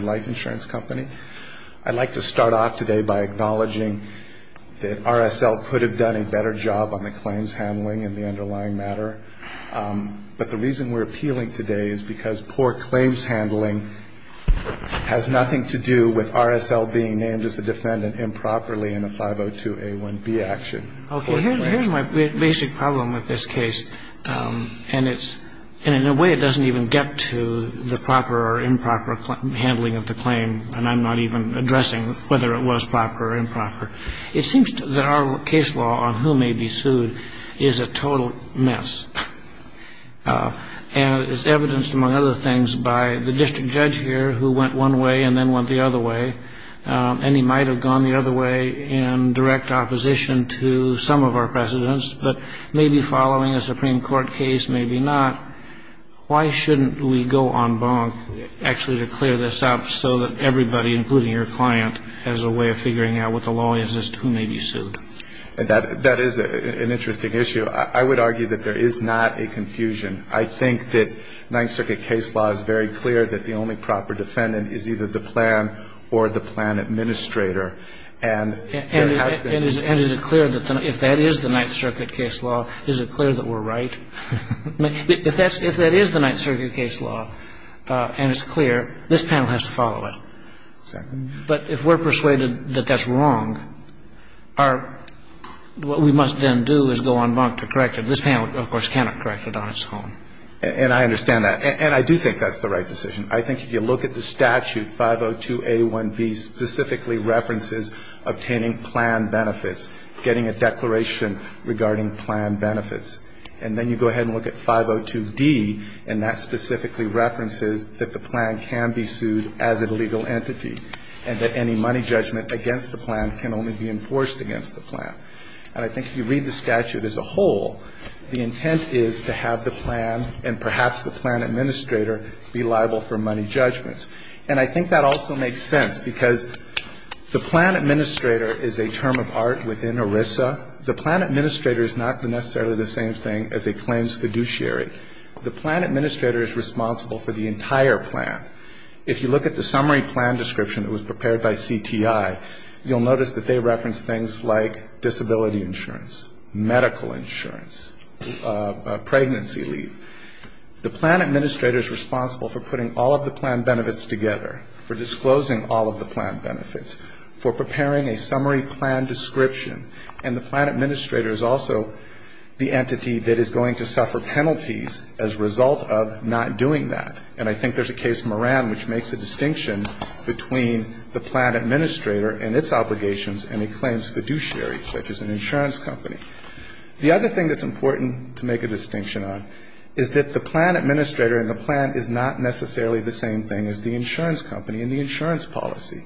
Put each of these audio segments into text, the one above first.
Life Insurance Company. I'd like to start off today by acknowledging that RSL could have done a better job on the claims handling and the underlying matter, but the reason we're appealing today is because poor claims handling has nothing to do with RSL being named as a defendant improperly in a 502A1B action. Okay. Here's my basic problem with this case, and it's – and in a way it doesn't even get to the proper or improper handling of the claim, and I'm not even addressing whether it was proper or improper. It seems that our case law on who may be sued is a total mess, and it's evidenced, among other things, by the district judge here who went one way and then went the other way, and he might have gone the other way in direct opposition to some of our precedents, but maybe following a Supreme Court case, maybe not. Why shouldn't we go en banc actually to clear this up so that everybody, including your client, has a way of figuring out what the law is as to who may be sued? That is an interesting issue. I would argue that there is not a confusion. I think that Ninth Circuit case law is very clear that the only proper defendant is either the plan or the plan administrator, and there has been some confusion. And is it clear that if that is the Ninth Circuit case law, is it clear that we're right? If that is the Ninth Circuit case law and it's clear, this panel has to follow it. Exactly. But if we're persuaded that that's wrong, our – what we must then do is go en banc to correct it. This panel, of course, cannot correct it on its own. And I understand that. And I do think that's the right decision. I think if you look at the statute, 502A1B specifically references obtaining plan benefits, getting a declaration regarding plan benefits. And then you go ahead and look at 502D, and that specifically references that the plan can be sued as a legal entity and that any money judgment against the plan can only be enforced against the plan. And I think if you read the statute as a whole, the intent is to have the plan and perhaps the plan administrator be liable for money judgments. And I think that also makes sense because the plan administrator is a term of art within ERISA. The plan administrator is not necessarily the same thing as a claims fiduciary. The plan administrator is responsible for the entire plan. If you look at the summary plan description that was prepared by CTI, you'll notice that they reference things like disability insurance, medical insurance, pregnancy leave. The plan administrator is responsible for putting all of the plan benefits together, for disclosing all of the plan benefits, for preparing a summary plan description. And the plan administrator is also the entity that is going to suffer penalties as a result of not doing that. And I think there's a case, Moran, which makes a distinction between the plan administrator and its obligations and a claims fiduciary, such as an insurance company. The other thing that's important to make a distinction on is that the plan administrator and the plan is not necessarily the same thing as the insurance company and the insurance policy.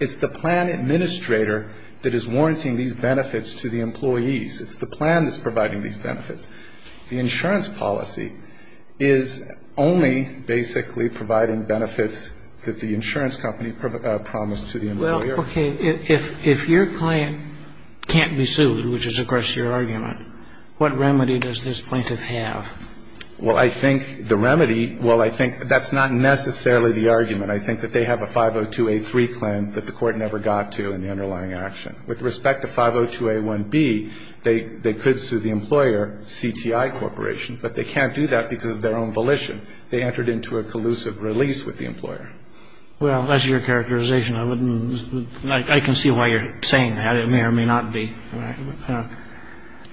It's the plan administrator that is warranting these benefits to the employees. It's the plan that's providing these benefits. The insurance policy is only basically providing benefits that the insurance company promised to the employer. Well, okay. If your client can't be sued, which is, of course, your argument, what remedy does this plaintiff have? Well, I think the remedy, well, I think that's not necessarily the argument. I think that they have a 502A3 claim that the Court never got to in the underlying action. With respect to 502A1B, they could sue the employer, CTI Corporation, but they can't do that because of their own volition. They entered into a collusive release with the employer. Well, that's your characterization. I can see why you're saying that. It may or may not be.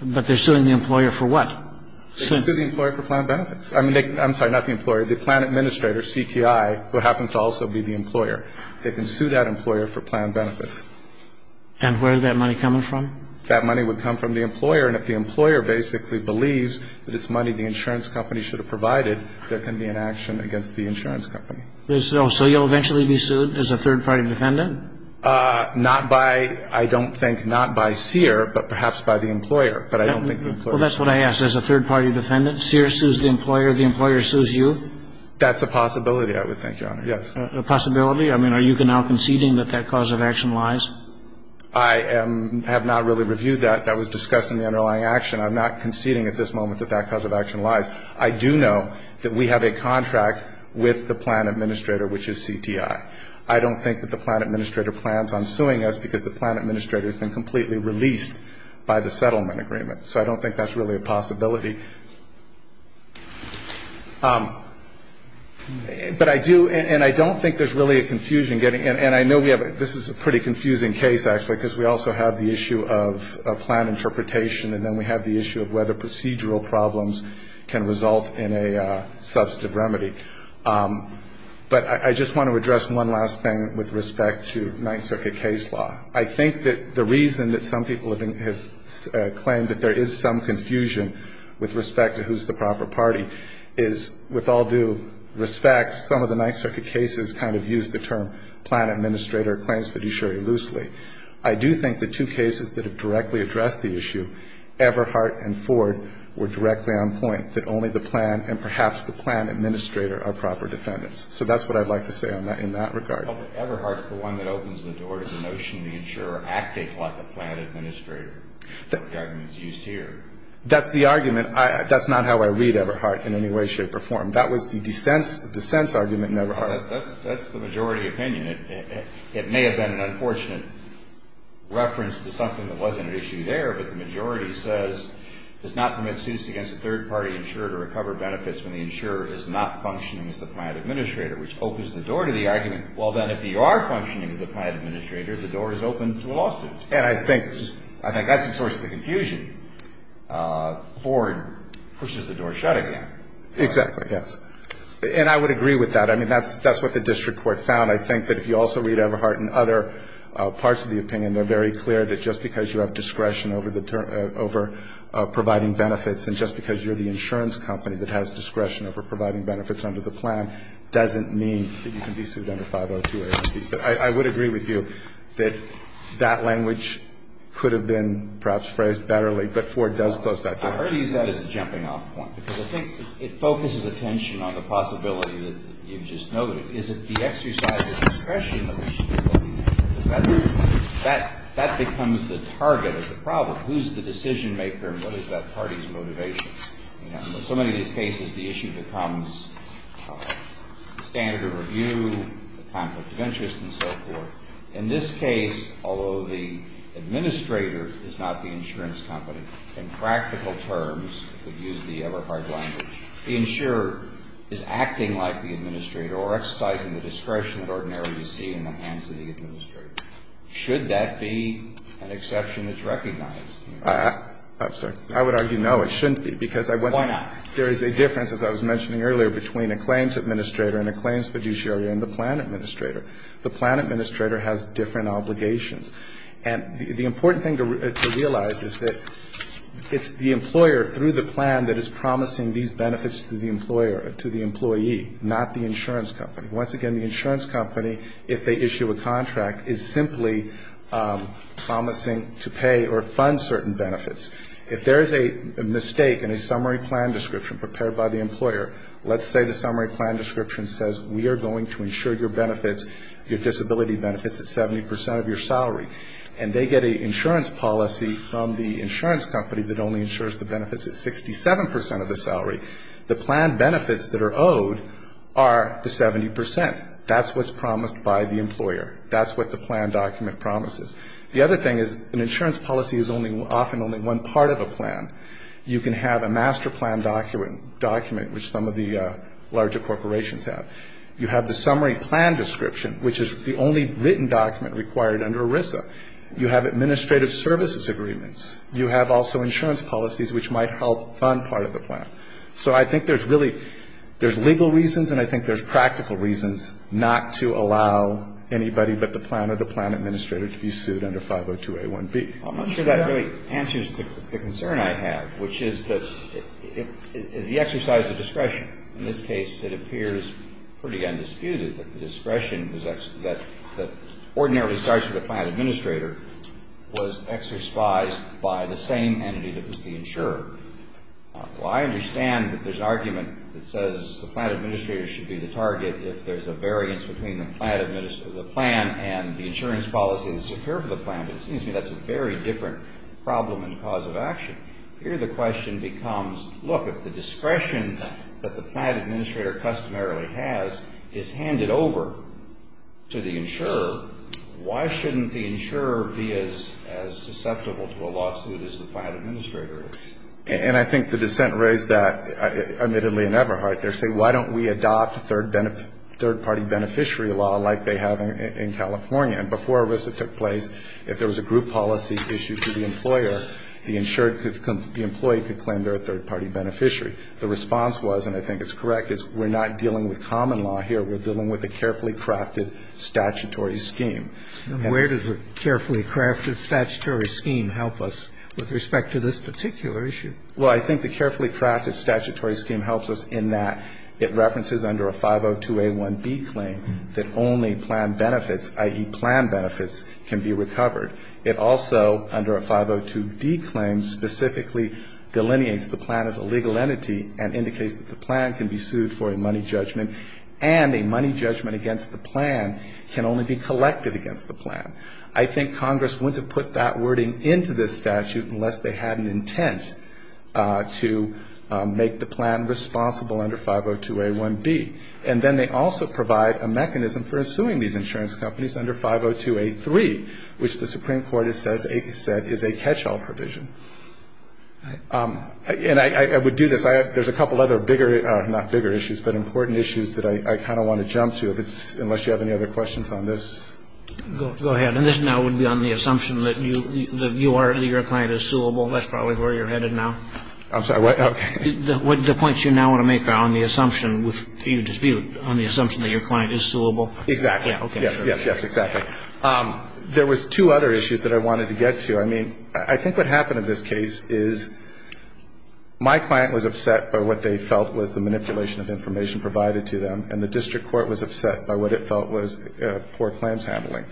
But they're suing the employer for what? They're suing the employer for plan benefits. I'm sorry, not the employer, the plan administrator, CTI, who happens to also be the employer. They can sue that employer for plan benefits. And where is that money coming from? That money would come from the employer. And if the employer basically believes that it's money the insurance company should have provided, there can be an action against the insurance company. So you'll eventually be sued as a third-party defendant? Not by, I don't think, not by Sear, but perhaps by the employer. But I don't think the employer. Well, that's what I asked. As a third-party defendant, Sear sues the employer, the employer sues you? That's a possibility, I would think, Your Honor, yes. A possibility? I mean, are you now conceding that that cause of action lies? I have not really reviewed that. That was discussed in the underlying action. I'm not conceding at this moment that that cause of action lies. I do know that we have a contract with the plan administrator, which is CTI. I don't think that the plan administrator plans on suing us because the plan administrator has been completely released by the settlement agreement. So I don't think that's really a possibility. But I do, and I don't think there's really a confusion getting, and I know we have, this is a pretty confusing case, actually, because we also have the issue of plan interpretation, and then we have the issue of whether procedural problems can result in a substantive remedy. But I just want to address one last thing with respect to Ninth Circuit case law. I think that the reason that some people have claimed that there is some confusion with respect to who's the proper party is, with all due respect, some of the Ninth Circuit cases kind of use the term plan administrator claims fiduciary loosely. I do think the two cases that have directly addressed the issue, Everhart and Ford, were directly on point, that only the plan and perhaps the plan administrator are proper defendants. So that's what I'd like to say in that regard. Well, but Everhart's the one that opens the door to the notion of the insurer acting like a plan administrator. The argument is used here. That's the argument. That's not how I read Everhart in any way, shape, or form. That was the dissent's argument in Everhart. Well, that's the majority opinion. It may have been an unfortunate reference to something that wasn't an issue there, but the majority says, does not permit suits against a third-party insurer to recover benefits when the insurer is not functioning as the plan administrator, which opens the door to the argument. Well, then, if you are functioning as the plan administrator, the door is open to lawsuits. And I think that's the source of the confusion. Ford pushes the door shut again. Exactly. Yes. And I would agree with that. I mean, that's what the district court found. I think that if you also read Everhart and other parts of the opinion, they're very clear that just because you have discretion over providing benefits and just because you're the insurance company that has discretion over providing benefits under the plan doesn't mean that you can be sued under 502A. I would agree with you that that language could have been perhaps phrased better generally, but Ford does close that door. I already use that as a jumping-off point, because I think it focuses attention on the possibility that you just noted. Is it the exercise of discretion that we should be looking at? Because that becomes the target of the problem. Who's the decision-maker and what is that party's motivation? You know, in so many of these cases, the issue becomes standard of review, the conflict of interest, and so forth. In this case, although the administrator is not the insurance company, in practical terms, we've used the Everhart language, the insurer is acting like the administrator or exercising the discretion that ordinarily you see in the hands of the administrator. Should that be an exception that's recognized? I'm sorry. I would argue no, it shouldn't be. Why not? Because there is a difference, as I was mentioning earlier, between a claims administrator and a claims fiduciary and the plan administrator. The plan administrator has different obligations. And the important thing to realize is that it's the employer, through the plan, that is promising these benefits to the employer, to the employee, not the insurance company. Once again, the insurance company, if they issue a contract, is simply promising to pay or fund certain benefits. If there is a mistake in a summary plan description prepared by the employer, let's say the summary plan description says, we are going to insure your benefits, your disability benefits at 70% of your salary. And they get an insurance policy from the insurance company that only insures the benefits at 67% of the salary. The plan benefits that are owed are the 70%. That's what's promised by the employer. That's what the plan document promises. The other thing is an insurance policy is often only one part of a plan. You can have a master plan document, which some of the larger corporations have. You have the summary plan description, which is the only written document required under ERISA. You have administrative services agreements. You have also insurance policies, which might help fund part of the plan. So I think there's really, there's legal reasons and I think there's practical reasons not to allow anybody but the plan or the plan administrator to be sued under 502A1B. I'm not sure that really answers the concern I have, which is the exercise of discretion. In this case, it appears pretty undisputed that the discretion that ordinarily starts with the plan administrator was exercised by the same entity that was the insurer. Well, I understand that there's an argument that says the plan administrator should be the target if there's a variance between the plan and the insurance policies that occur for the plan. But it seems to me that's a very different problem and cause of action. Here the question becomes, look, if the discretion that the plan administrator customarily has is handed over to the insurer, why shouldn't the insurer be as susceptible to a lawsuit as the plan administrator is? And I think the dissent raised that, admittedly, in Eberhardt. They're saying, why don't we adopt third-party beneficiary law like they have in California? And before ERISA took place, if there was a group policy issue to the employer, the insurer could come, the employee could claim they're a third-party beneficiary. The response was, and I think it's correct, is we're not dealing with common law here. We're dealing with a carefully crafted statutory scheme. And where does a carefully crafted statutory scheme help us with respect to this particular issue? Well, I think the carefully crafted statutory scheme helps us in that it references under a 502A1B claim that only plan benefits, i.e., plan benefits, can be recovered. It also, under a 502D claim, specifically delineates the plan as a legal entity and indicates that the plan can be sued for a money judgment and a money judgment against the plan can only be collected against the plan. I think Congress wouldn't have put that wording into this statute unless they had an intent to make the plan responsible under 502A1B. And then they also provide a mechanism for suing these insurance companies under 502A3, which the Supreme Court has said is a catch-all provision. And I would do this. There's a couple other bigger, not bigger issues, but important issues that I kind of want to jump to unless you have any other questions on this. Go ahead. And this now would be on the assumption that you are, that your client is suable. That's probably where you're headed now. I'm sorry, what? Okay. The points you now want to make are on the assumption with the dispute, on the assumption that your client is suable. Exactly. Yeah, okay. Yes, yes, exactly. There was two other issues that I wanted to get to. I mean, I think what happened in this case is my client was upset by what they felt was the manipulation of information provided to them, and the district court was upset by what it felt was poor claims handling.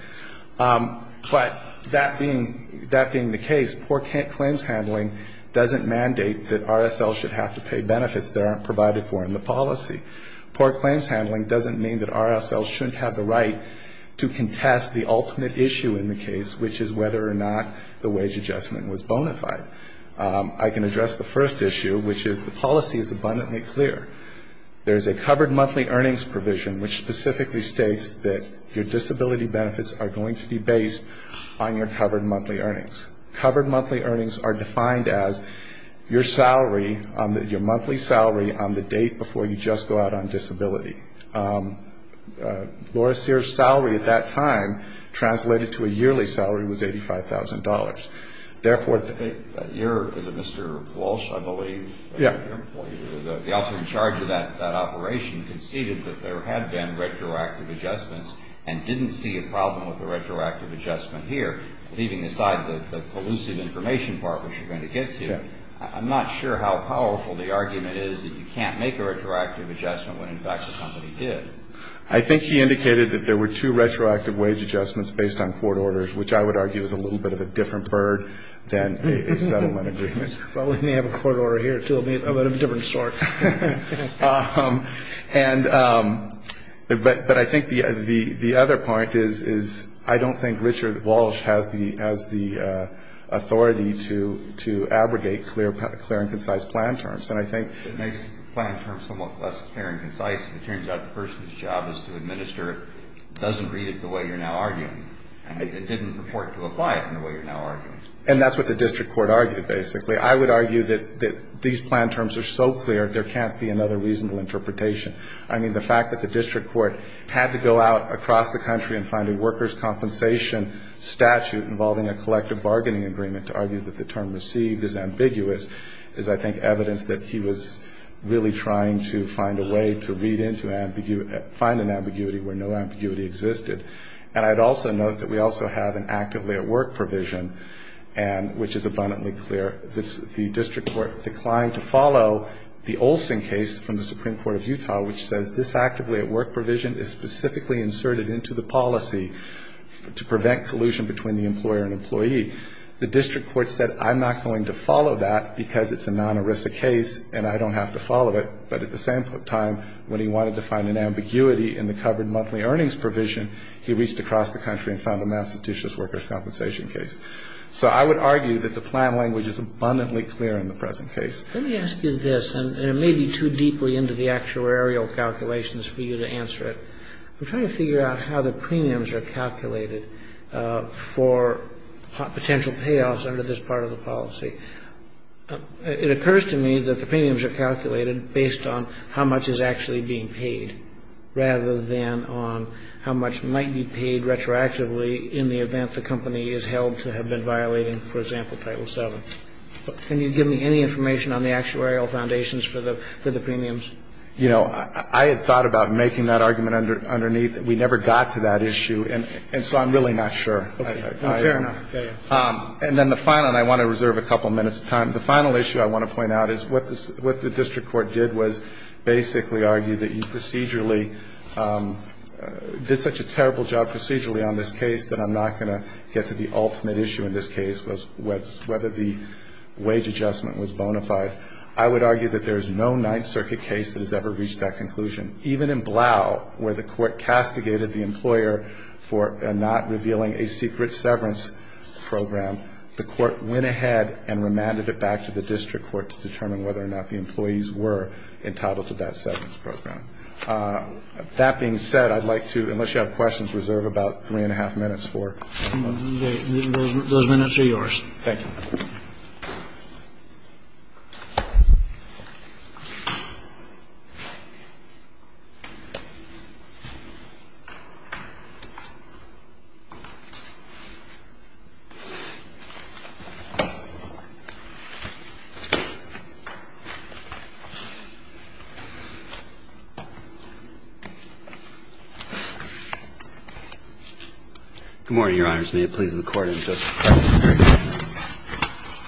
But that being, that being the case, poor claims handling doesn't mandate that RSLs should have to pay benefits that aren't provided for in the policy. Poor claims handling doesn't mean that RSLs shouldn't have the right to contest the ultimate issue in the case, which is whether or not the wage adjustment was bona fide. I can address the first issue, which is the policy is abundantly clear. There is a covered monthly earnings provision, which specifically states that your disability benefits are going to be based on your covered monthly earnings. Covered monthly earnings are defined as your salary, your monthly salary on the date before you just go out on disability. Laura Sears' salary at that time, translated to a yearly salary, was $85,000. That year, is it Mr. Walsh, I believe? Yeah. The officer in charge of that operation conceded that there had been retroactive adjustments and didn't see a problem with the retroactive adjustment here, leaving aside the collusive information part, which we're going to get to. I'm not sure how powerful the argument is that you can't make a retroactive adjustment when, in fact, the company did. I think he indicated that there were two retroactive wage adjustments based on court orders, which I would argue is a little bit of a different bird than a settlement agreement. Well, we may have a court order here, too, but of a different sort. But I think the other point is I don't think Richard Walsh has the authority to abrogate clear and concise plan terms. It makes the plan terms somewhat less clear and concise. It turns out the person's job is to administer it. It doesn't read it the way you're now arguing. It didn't report to apply it in the way you're now arguing. And that's what the district court argued, basically. I would argue that these plan terms are so clear there can't be another reasonable interpretation. I mean, the fact that the district court had to go out across the country and find a workers' compensation statute involving a collective bargaining agreement to argue that the term received is ambiguous is, I think, evidence that he was really trying to find a way to read into ambiguity, find an ambiguity where no ambiguity existed. And I'd also note that we also have an actively at work provision, which is abundantly clear. The district court declined to follow the Olson case from the Supreme Court of Utah, which says this actively at work provision is specifically inserted into the policy to prevent collusion between the employer and employee. The district court said I'm not going to follow that because it's a non-ERISA case and I don't have to follow it. But at the same time, when he wanted to find an ambiguity in the covered monthly earnings provision, he reached across the country and found a Massachusetts workers' compensation case. So I would argue that the plan language is abundantly clear in the present case. Let me ask you this, and it may be too deeply into the actuarial calculations for you to answer it. I'm trying to figure out how the premiums are calculated for potential payoffs under this part of the policy. It occurs to me that the premiums are calculated based on how much is actually being paid rather than on how much might be paid retroactively in the event the company is held to have been violating, for example, Title VII. Can you give me any information on the actuarial foundations for the premiums? You know, I had thought about making that argument underneath. We never got to that issue, and so I'm really not sure. Okay. Fair enough. And then the final, and I want to reserve a couple minutes of time, the final issue I want to point out is what the district court did was basically argue that you procedurally did such a terrible job procedurally on this case that I'm not going to get to the ultimate issue in this case was whether the wage adjustment was bona fide. I would argue that there is no Ninth Circuit case that has ever reached that conclusion. Even in Blau, where the court castigated the employer for not revealing a secret severance program, the court went ahead and remanded it back to the district court to determine whether or not the employees were entitled to that severance program. That being said, I'd like to, unless you have questions, reserve about three-and-a-half minutes for. Those minutes are yours. Thank you. Good morning, Your Honors. May it please the Court and the Justice Department.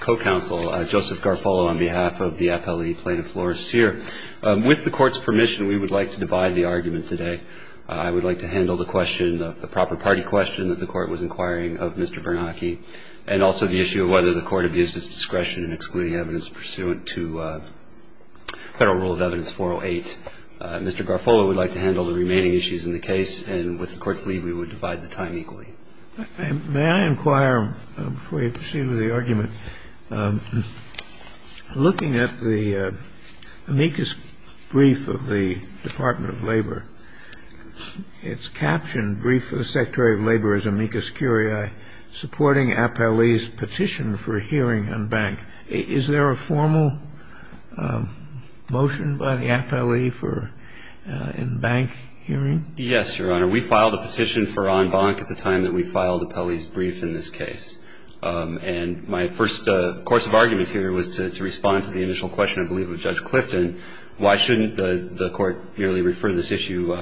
Co-counsel Joseph Garfolo on behalf of the FLE plaintiff floor is here. With the Court's permission, we would like to divide the argument today. I would like to handle the question, the proper party question, that the Court was requiring of Mr. Bernanke, and also the issue of whether the Court abused its discretion in excluding evidence pursuant to Federal Rule of Evidence 408. Mr. Garfolo would like to handle the remaining issues in the case, and with the Court's leave, we would divide the time equally. May I inquire, before you proceed with the argument, looking at the amicus brief of the Department of Labor, its captioned brief of the Secretary of Labor as amicus curiae, supporting Appellee's petition for hearing en banc, is there a formal motion by the Appellee for en banc hearing? Yes, Your Honor. We filed a petition for en banc at the time that we filed Appellee's brief in this case. And my first course of argument here was to respond to the initial question, I believe, of Judge Clifton, why shouldn't the Court merely refer this issue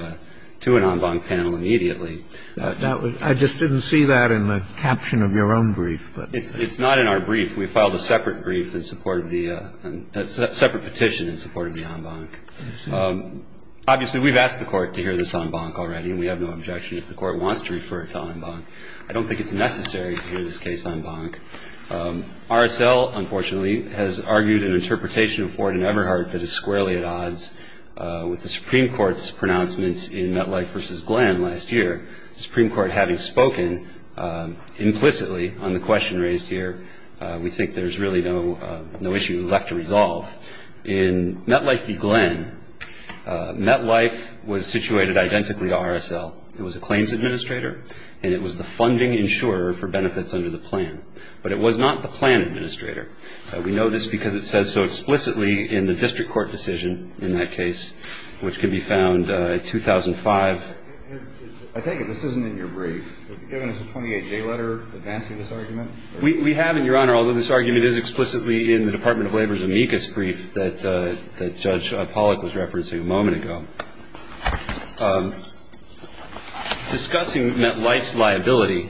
to an en banc panel immediately? I just didn't see that in the caption of your own brief. It's not in our brief. We filed a separate brief in support of the – a separate petition in support of the en banc. Obviously, we've asked the Court to hear this en banc already, and we have no objection if the Court wants to refer it to en banc. I don't think it's necessary to hear this case en banc. RSL, unfortunately, has argued an interpretation of Ford and Eberhardt that is squarely at odds with the Supreme Court's pronouncements in Metlife v. Glenn last year. The Supreme Court having spoken implicitly on the question raised here, we think there's really no issue left to resolve. In Metlife v. Glenn, Metlife was situated identically to RSL. It was a claims administrator, and it was the funding insurer for benefits under the plan. But it was not the plan administrator. We know this because it says so explicitly in the district court decision in that case, which can be found in 2005. I take it this isn't in your brief. Have you given us a 28-J letter advancing this argument? We have, Your Honor, although this argument is explicitly in the Department of Labor's amicus brief that Judge Pollack was referencing a moment ago. Discussing Metlife's liability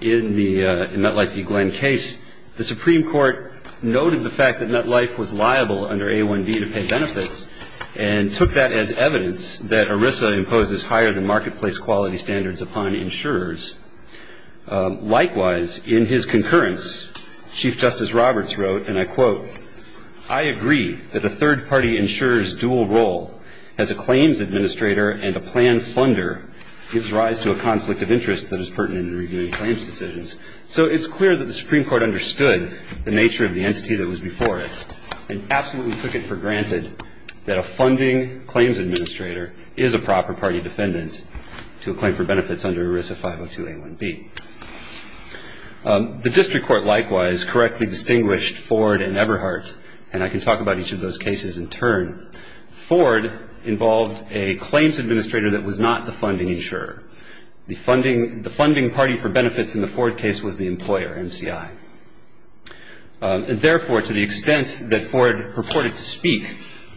in the – in the Metlife v. Glenn case, the Supreme Court noted the fact that Metlife was liable under A1B to pay benefits and took that as evidence that ERISA imposes higher than marketplace quality standards upon insurers. Likewise, in his concurrence, Chief Justice Roberts wrote, and I quote, I agree that a third-party insurer's dual role as a claims administrator and a plan funder gives rise to a conflict of interest that is pertinent in reviewing claims decisions. So it's clear that the Supreme Court understood the nature of the entity that was before it and absolutely took it for granted that a funding claims administrator is a proper party defendant to a claim for benefits under ERISA 502A1B. The district court likewise correctly distinguished Ford and Eberhardt, and I can talk about each of those cases in turn. Ford involved a claims administrator that was not the funding insurer. The funding – the funding party for benefits in the Ford case was the employer, MCI. And therefore, to the extent that Ford purported to speak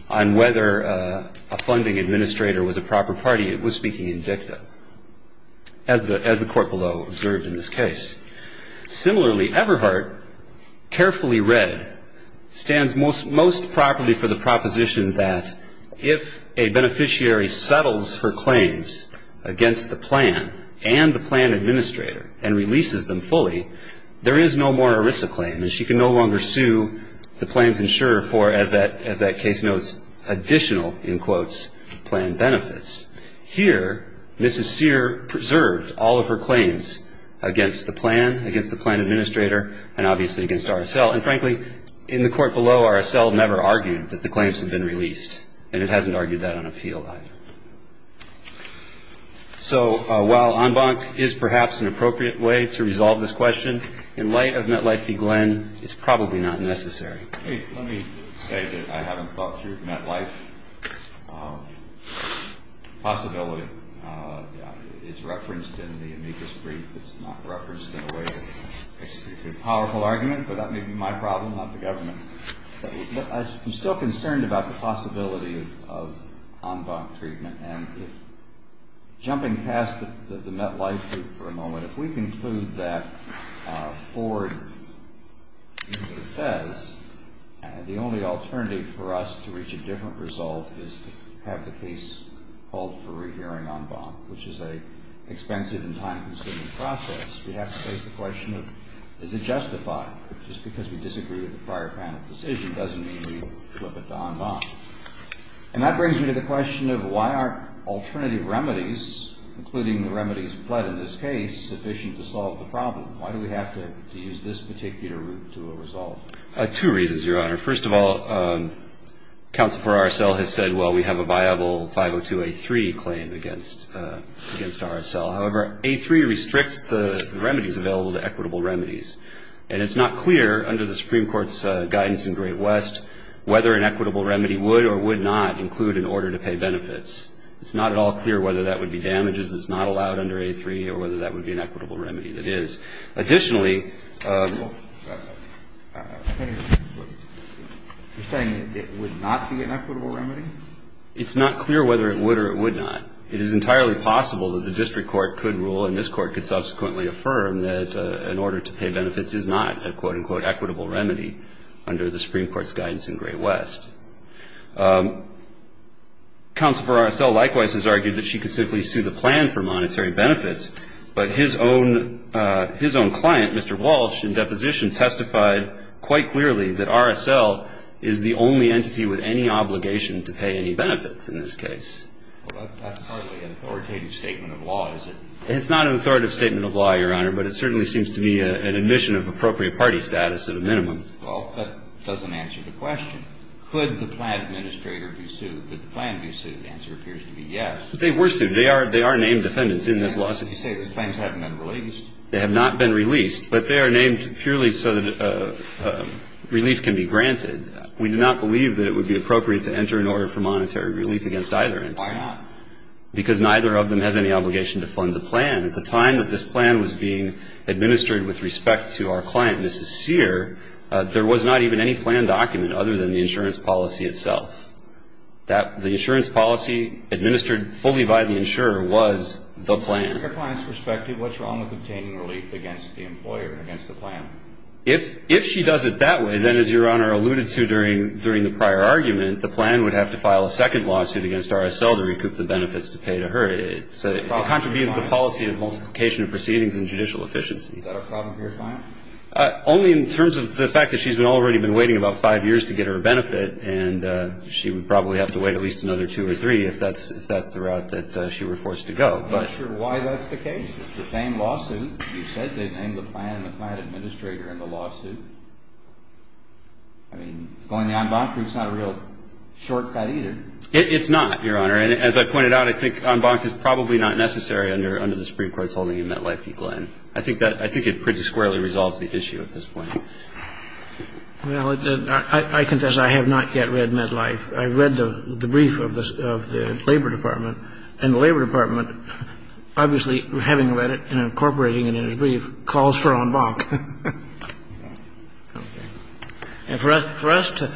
on whether a funding administrator was a proper party, it was speaking in dicta, as the – as the court below observed in this case. Similarly, Eberhardt carefully read, stands most – most properly for the proposition that if a beneficiary settles her claims against the plan and the plan administrator and releases them fully, there is no more ERISA claim, and she can no longer sue the plans insurer for, as that – as that case notes, additional, in quotes, plan benefits. Here, Mrs. Sear preserved all of her claims against the plan, against the plan administrator, and obviously against RSL. And frankly, in the court below, RSL never argued that the claims had been released, and it hasn't argued that on appeal either. So while en banc is perhaps an appropriate way to resolve this question, in light of MetLife v. Glenn, it's probably not necessary. Let me say that I haven't thought through MetLife. Possibility is referenced in the amicus brief. It's not referenced in a way that makes a pretty powerful argument, but that may be my problem, not the government's. But I'm still concerned about the possibility of en banc treatment, and if – jumping past the – the MetLife group for a moment, if we conclude that Ford, as it says, the only alternative for us to reach a different result is to have the case called for rehearing en banc, we have to face the question of is it justified? Just because we disagree with the prior panel decision doesn't mean we flip it to en banc. And that brings me to the question of why aren't alternative remedies, including the remedies pled in this case, sufficient to solve the problem? Why do we have to use this particular route to a result? Two reasons, Your Honor. First of all, counsel for RSL has said, well, we have a viable 502A3 claim against RSL. However, A3 restricts the remedies available to equitable remedies. And it's not clear under the Supreme Court's guidance in Great West whether an equitable remedy would or would not include an order to pay benefits. It's not at all clear whether that would be damages that's not allowed under A3 or whether that would be an equitable remedy that is. Additionally – You're saying it would not be an equitable remedy? It's not clear whether it would or it would not. It is entirely possible that the district court could rule and this court could subsequently affirm that an order to pay benefits is not a, quote, unquote, equitable remedy under the Supreme Court's guidance in Great West. Counsel for RSL likewise has argued that she could simply sue the plan for monetary benefits. But his own client, Mr. Walsh, in deposition testified quite clearly that RSL is the only entity with any obligation to pay any benefits in this case. Well, that's hardly an authoritative statement of law, is it? It's not an authoritative statement of law, Your Honor, but it certainly seems to be an admission of appropriate party status at a minimum. Well, that doesn't answer the question. Could the plan administrator be sued? Could the plan be sued? The answer appears to be yes. But they were sued. They are named defendants in this lawsuit. You say the plans haven't been released? They have not been released, but they are named purely so that relief can be granted. We do not believe that it would be appropriate to enter an order for monetary relief against either entity. Why not? Because neither of them has any obligation to fund the plan. At the time that this plan was being administered with respect to our client, Mrs. Sear, there was not even any plan document other than the insurance policy itself. The insurance policy administered fully by the insurer was the plan. From your client's perspective, what's wrong with obtaining relief against the employer, against the plan? If she does it that way, then, as Your Honor alluded to during the prior argument, the plan would have to file a second lawsuit against RSL to recoup the benefits to pay to her. It contributes to the policy of multiplication of proceedings and judicial efficiency. Is that a problem for your client? Only in terms of the fact that she's already been waiting about five years to get her benefit, and she would probably have to wait at least another two or three if that's the route that she were forced to go. I'm not sure why that's the case. It's the same lawsuit. You said they named the plan and the plan administrator in the lawsuit. I mean, going to the en banc brief is not a real shortcut either. It's not, Your Honor. And as I pointed out, I think en banc is probably not necessary under the Supreme Court's holding in MetLife v. Glenn. I think it pretty squarely resolves the issue at this point. Well, I confess I have not yet read MetLife. I read the brief of the Labor Department, and the Labor Department, obviously, having read it and incorporating it in his brief, calls for en banc. Okay. And for us to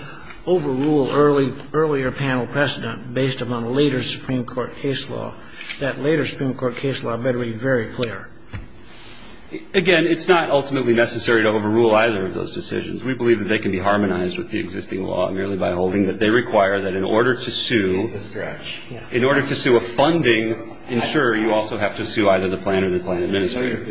overrule earlier panel precedent based upon later Supreme Court case law, that later Supreme Court case law better be very clear. Again, it's not ultimately necessary to overrule either of those decisions. We believe that they can be harmonized with the existing law merely by holding that they require that in order to sue a funding insurer, you also have to sue either the plan or the plan administrator.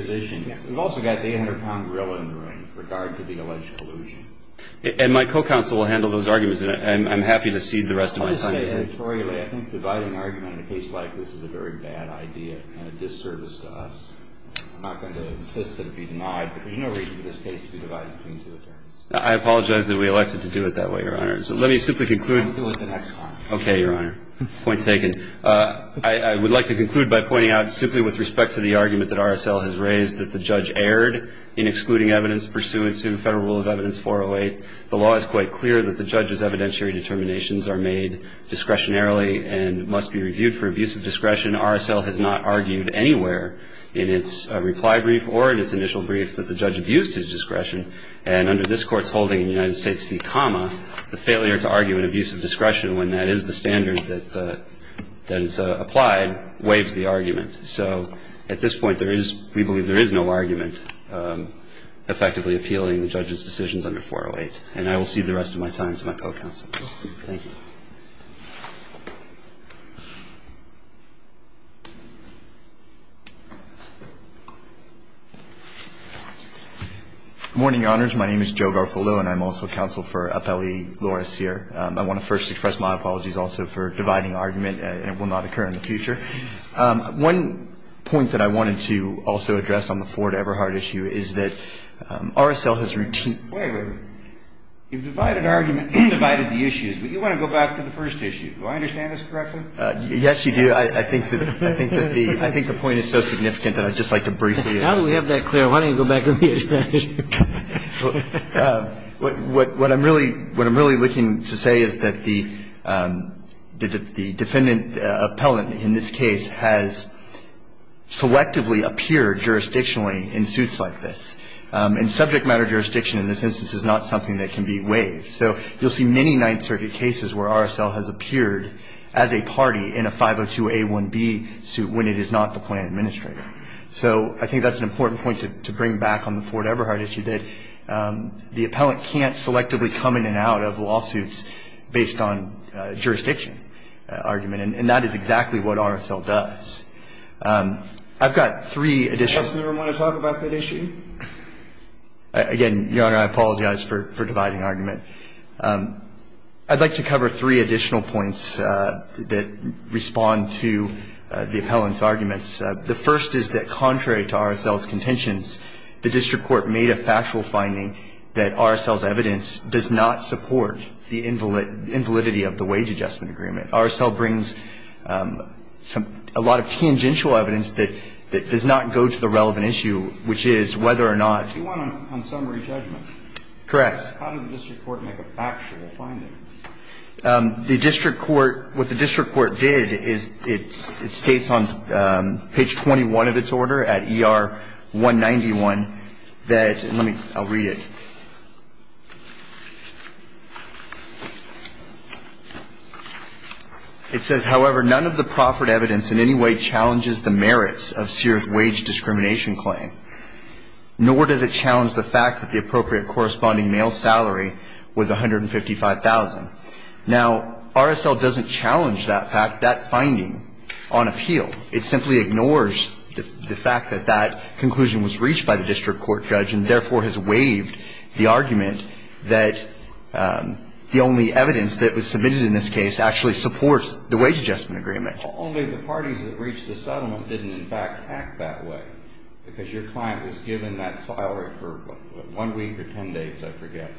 I'm not going to insist that it be denied, but there's no reason for this case to be divided between two attorneys. I apologize that we elected to do it that way, Your Honor. So let me simply conclude. We'll do it the next time. Okay, Your Honor. Point taken. I would like to conclude by pointing out, simply with respect to the argument It's not necessary to overrule either of those decisions. that was raised that the judge erred in excluding evidence pursuant to Federal Rule of Evidence 408. The law is quite clear that the judge's evidentiary determinations are made discretionarily and must be reviewed for abuse of discretion. RSL has not argued anywhere in its reply brief or in its initial brief that the judge abused his discretion. And under this Court's holding in the United States v. the failure to argue an abuse of discretion when that is the standard that is applied waives the argument. So at this point, we believe there is no argument effectively appealing the judge's decisions under 408. And I will cede the rest of my time to my co-counsel. Thank you. Good morning, Your Honors. My name is Joe Garfullo, and I'm also counsel for Appellee Laura Sear. I want to first express my apologies also for dividing argument. It will not occur in the future. One point that I wanted to also address on the Ford-Eberhardt issue is that RSL has routinely Wait a minute. You've divided argument. You've divided the issues. But you want to go back to the first issue. Do I understand this correctly? Yes, you do. I think that the point is so significant that I'd just like to briefly Now that we have that clear, why don't you go back to the issue? What I'm really looking to say is that the defendant appellant in this case has selectively appeared jurisdictionally in suits like this. And subject matter jurisdiction in this instance is not something that can be waived. So you'll see many Ninth Circuit cases where RSL has appeared as a party in a 502A1B suit when it is not the plan administrator. So I think that's an important point to bring back on the Ford-Eberhardt issue. That the appellant can't selectively come in and out of lawsuits based on jurisdiction argument. And that is exactly what RSL does. I've got three additional Does the Justice Department want to talk about that issue? Again, Your Honor, I apologize for dividing argument. I'd like to cover three additional points that respond to the appellant's arguments. The first is that contrary to RSL's contentions, the district court made a factual finding that RSL's evidence does not support the invalidity of the wage adjustment agreement. RSL brings a lot of tangential evidence that does not go to the relevant issue, which is whether or not Do you want a summary judgment? Correct. How did the district court make a factual finding? The district court, what the district court did is it states on page 21 of its order at ER191 that, let me, I'll read it. It says, however, none of the proffered evidence in any way challenges the merits of Sears' wage discrimination claim, nor does it challenge the fact that the appropriate corresponding male salary was $155,000. Now, RSL doesn't challenge that fact, that finding, on appeal. It simply ignores the fact that that conclusion was reached by the district court judge and therefore has waived the argument that the only evidence that was submitted in this case actually supports the wage adjustment agreement. Only the parties that reached the settlement didn't, in fact, act that way, because your client was given that salary for, what, one week or ten days, I forget.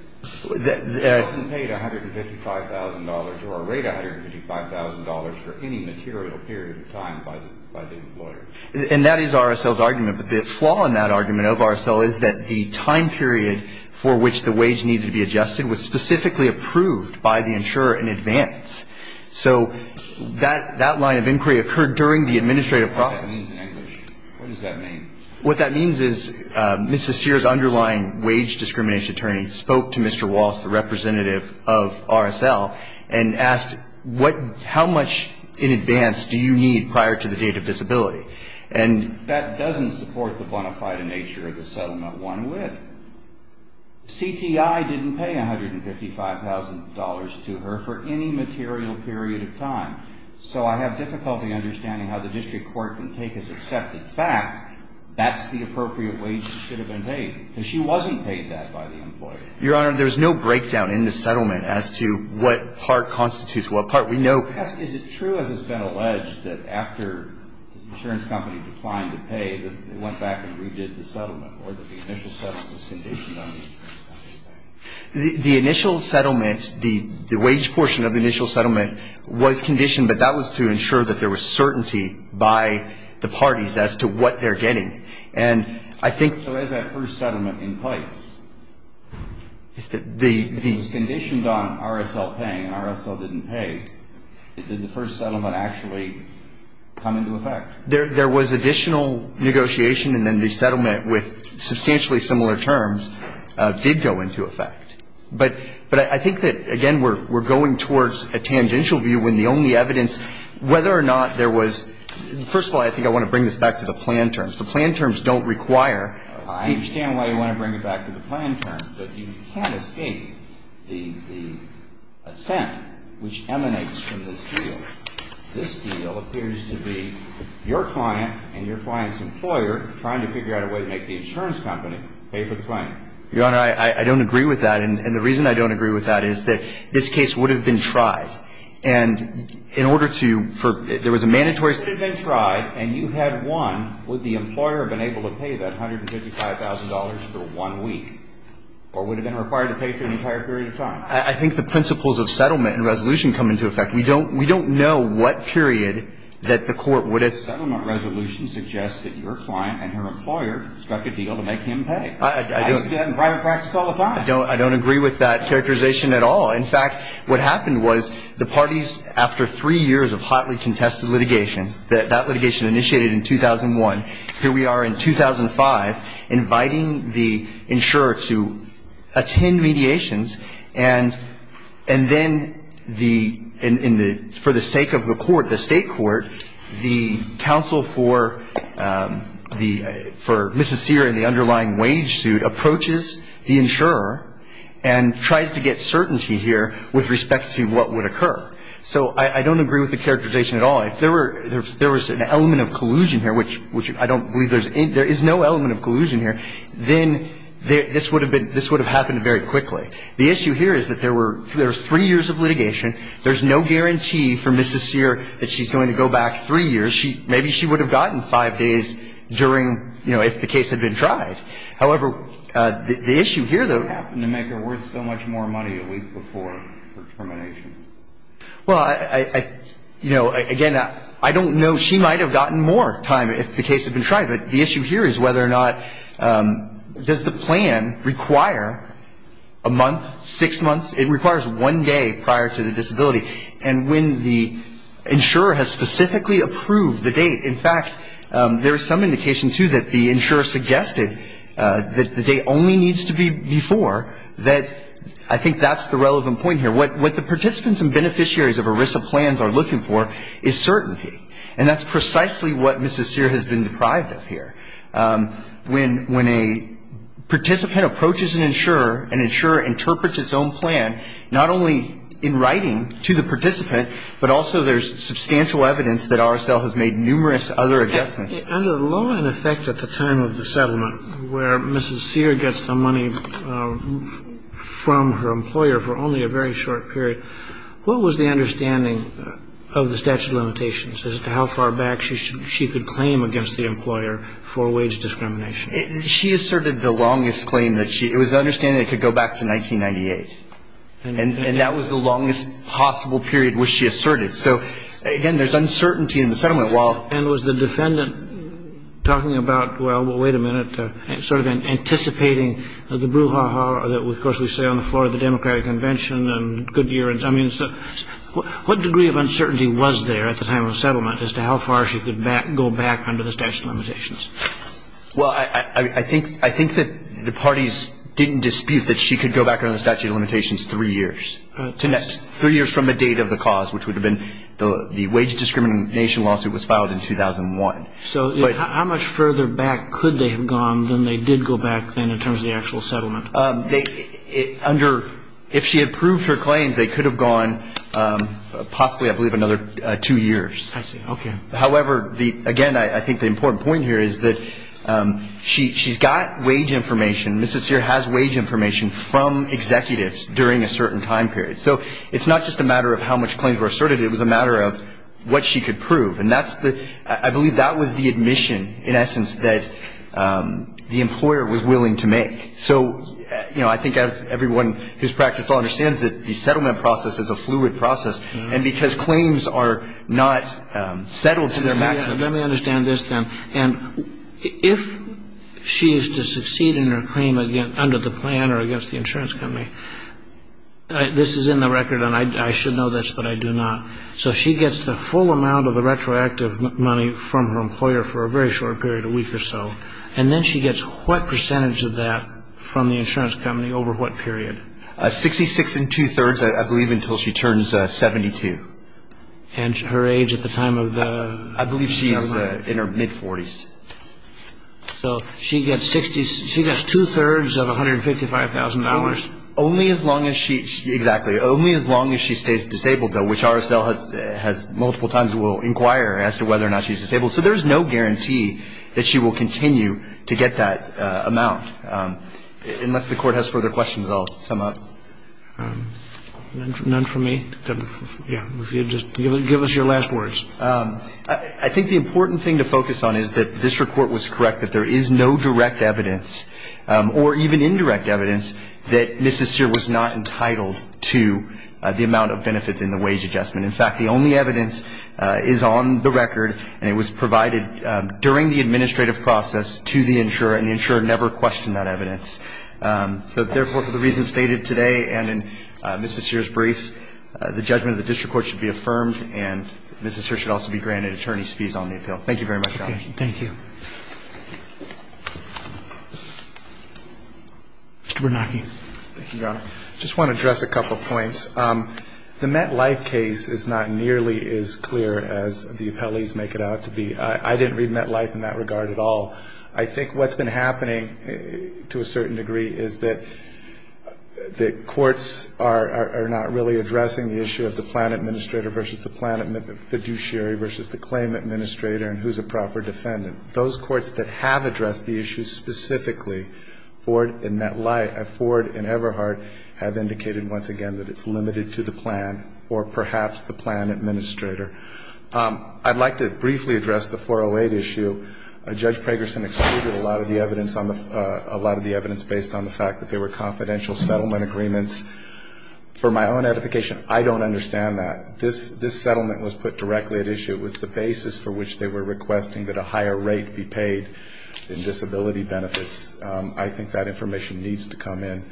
They often paid $155,000 or are rated $155,000 for any material period of time by the employer. And that is RSL's argument. But the flaw in that argument of RSL is that the time period for which the wage needed to be adjusted was specifically approved by the insurer in advance. So that line of inquiry occurred during the administrative process. What does that mean in English? What does that mean? What that means is Mrs. Sears, underlying wage discrimination attorney, spoke to Mr. Walsh, the representative of RSL, and asked how much in advance do you need prior to the date of disability. And that doesn't support the bona fide nature of the settlement one with. CTI didn't pay $155,000 to her for any material period of time. So I have difficulty understanding how the district court can take as accepted fact that's the appropriate wage that should have been paid. Because she wasn't paid that by the employer. Your Honor, there's no breakdown in the settlement as to what part constitutes what part. We know that. Is it true, as has been alleged, that after the insurance company declined to pay, that they went back and redid the settlement or that the initial settlement was conditioned on the insurance company? The initial settlement, the wage portion of the initial settlement was conditioned, but that was to ensure that there was certainty by the parties as to what they're getting. And I think the first settlement in place, if it was conditioned on RSL paying and RSL didn't pay, did the first settlement actually come into effect? There was additional negotiation and then the settlement with substantially similar terms did go into effect. But I think that, again, we're going towards a tangential view when the only evidence whether or not there was, first of all, I think I want to bring this back to the plan terms. The plan terms don't require. I understand why you want to bring it back to the plan terms. But you can't escape the assent which emanates from this deal. This deal appears to be your client and your client's employer trying to figure out a way to make the insurance company pay for the claim. Your Honor, I don't agree with that. And the reason I don't agree with that is that this case would have been tried. And in order to for there was a mandatory. If it had been tried and you had won, would the employer have been able to pay that $155,000 for one week or would it have been required to pay for an entire period of time? I think the principles of settlement and resolution come into effect. We don't know what period that the court would have. I don't agree with that characterization at all. In fact, what happened was the parties, after three years of hotly contested litigation, that litigation initiated in 2001, here we are in 2005, inviting the insurer to attend mediations and then the for the sake of the court, the state court, the counsel for the for Mrs. Sear in the underlying wage suit approaches the insurer and tries to get certainty here with respect to what would occur. So I don't agree with the characterization at all. If there were if there was an element of collusion here, which I don't believe there's there is no element of collusion here, then this would have been this would have happened very quickly. I don't know if you're worried about the fact that she's going to go back three I don't think you're worried about the fact that she's going to go back three years. There's no guarantee for Mrs. Sear that she's going to go back three years. Maybe she would have gotten five days during, you know, if the case had been tried. However, the issue here, though. I don't know if it would have happened to make her worth so much more money a week before her termination. Well, I, you know, again, I don't know. She might have gotten more time if the case had been tried. But the issue here is whether or not, does the plan require a month, six months? It requires one day prior to the disability. And when the insurer has specifically approved the date, in fact, there is some indication, too, that the insurer suggested that the date only needs to be before, that I think that's the relevant point here. What the participants and beneficiaries of ERISA plans are looking for is certainty. And that's precisely what Mrs. Sear has been deprived of here. When a participant approaches an insurer, an insurer interprets its own plan, not only in writing to the participant, but also there's substantial evidence that RSL has made numerous other adjustments. Under the law, in effect, at the time of the settlement, where Mrs. Sear gets the money from her employer for only a very short period, what was the understanding of the statute of limitations as to how far back she could claim against the employer for wage discrimination? She asserted the longest claim that she – it was the understanding it could go back to 1998. And that was the longest possible period, which she asserted. So, again, there's uncertainty in the settlement. And was the defendant talking about, well, wait a minute, sort of anticipating the brouhaha that, of course, we say on the floor of the Democratic Convention and good years. I mean, what degree of uncertainty was there at the time of the settlement as to how far she could go back under the statute of limitations? Well, I think that the parties didn't dispute that she could go back under the statute of limitations three years. Three years from the date of the cause, which would have been the wage discrimination nation lawsuit was filed in 2001. So how much further back could they have gone than they did go back, then, in terms of the actual settlement? Under – if she approved her claims, they could have gone possibly, I believe, another two years. I see. Okay. However, again, I think the important point here is that she's got wage information. Mrs. Sear has wage information from executives during a certain time period. So it's not just a matter of how much claims were asserted. It was a matter of what she could prove. And that's the – I believe that was the admission, in essence, that the employer was willing to make. So, you know, I think as everyone who's practiced law understands it, the settlement process is a fluid process. And because claims are not settled to their maximum. Let me understand this, then. And if she is to succeed in her claim under the plan or against the insurance company, this is in the record, and I should know this, but I do not. So she gets the full amount of the retroactive money from her employer for a very short period, a week or so. And then she gets what percentage of that from the insurance company over what period? Sixty-six and two-thirds, I believe, until she turns 72. And her age at the time of the – I believe she's in her mid-40s. So she gets two-thirds of $155,000. Only as long as she – exactly. Only as long as she stays disabled, though, which RSL has multiple times will inquire as to whether or not she's disabled. So there's no guarantee that she will continue to get that amount. Unless the Court has further questions, I'll sum up. None from me? Yeah, if you'd just give us your last words. I think the important thing to focus on is that this report was correct, that there is no direct evidence or even indirect evidence that Mrs. Sear was not entitled to the amount of benefits in the wage adjustment. In fact, the only evidence is on the record, and it was provided during the administrative process to the insurer, and the insurer never questioned that evidence. So therefore, for the reasons stated today and in Mrs. Sear's brief, the judgment of the district court should be affirmed, and Mrs. Sear should also be granted attorney's fees on the appeal. Thank you very much, Your Honor. Thank you. Mr. Bernanke. Thank you, Your Honor. I just want to address a couple of points. The MetLife case is not nearly as clear as the appellees make it out to be. I didn't read MetLife in that regard at all. I think what's been happening to a certain degree is that the courts are not really addressing the issue of the plan administrator versus the plan fiduciary versus the claim administrator and who's a proper defendant. Those courts that have addressed the issue specifically, Ford and MetLife, Ford and Everhart, have indicated once again that it's limited to the plan or perhaps the plan administrator. I'd like to briefly address the 408 issue. Judge Pragerson excluded a lot of the evidence on the – a lot of the evidence based on the fact that they were confidential settlement agreements. For my own edification, I don't understand that. This settlement was put directly at issue. It was the basis for which they were requesting that a higher rate be paid in disability benefits. I think that information needs to come in.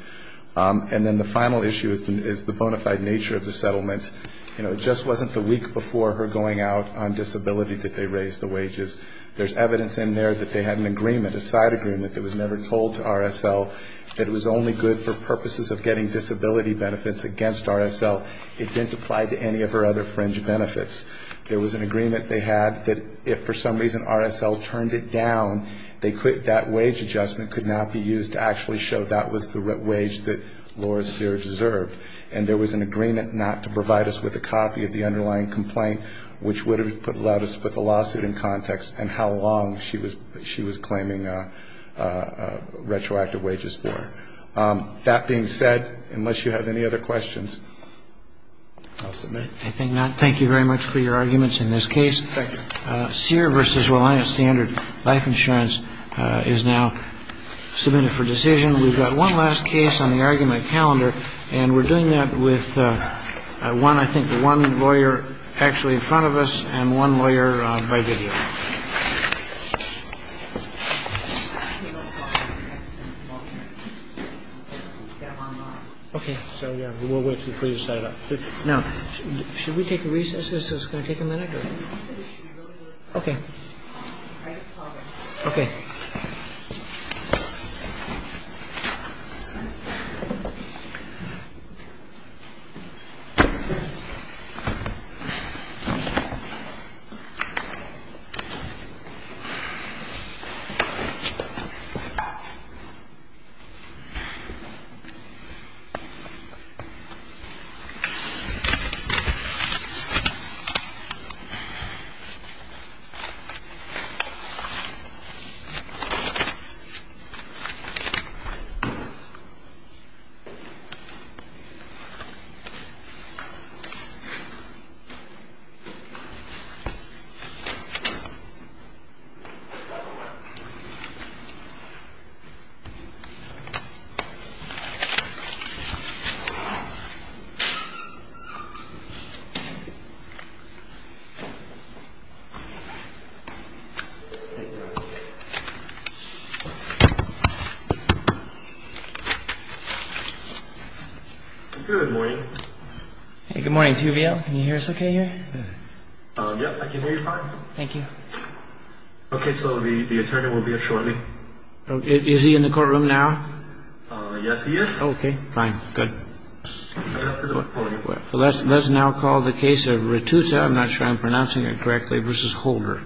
And then the final issue is the bona fide nature of the settlement. You know, it just wasn't the week before her going out on disability that they raised the wages. There's evidence in there that they had an agreement, a side agreement that was never told to RSL that it was only good for purposes of getting disability benefits against RSL. It didn't apply to any of her other fringe benefits. There was an agreement they had that if for some reason RSL turned it down, that wage adjustment could not be used to actually show that was the wage that Laura Sear deserved. And there was an agreement not to provide us with a copy of the underlying complaint, which would have allowed us to put the lawsuit in context and how long she was claiming retroactive wages for. That being said, unless you have any other questions, I'll submit. I think not. Thank you very much for your arguments in this case. Thank you. Sear v. Reliance Standard Life Insurance is now submitted for decision. We've got one last case on the argument calendar, and we're doing that with one, I think, one lawyer actually in front of us and one lawyer by video. Okay. So we'll wait for you to set it up. Now, should we take recess? Is this going to take a minute? Okay. Okay. Okay. Good morning. Good morning. Can you hear us okay here? Yeah, I can hear you fine. Thank you. Okay. So the attorney will be here shortly. Is he in the courtroom now? Yes, he is. Okay. Fine. Good. Let's now call the case of Ratusa. I'm not sure I'm pronouncing it correctly. This is Holder.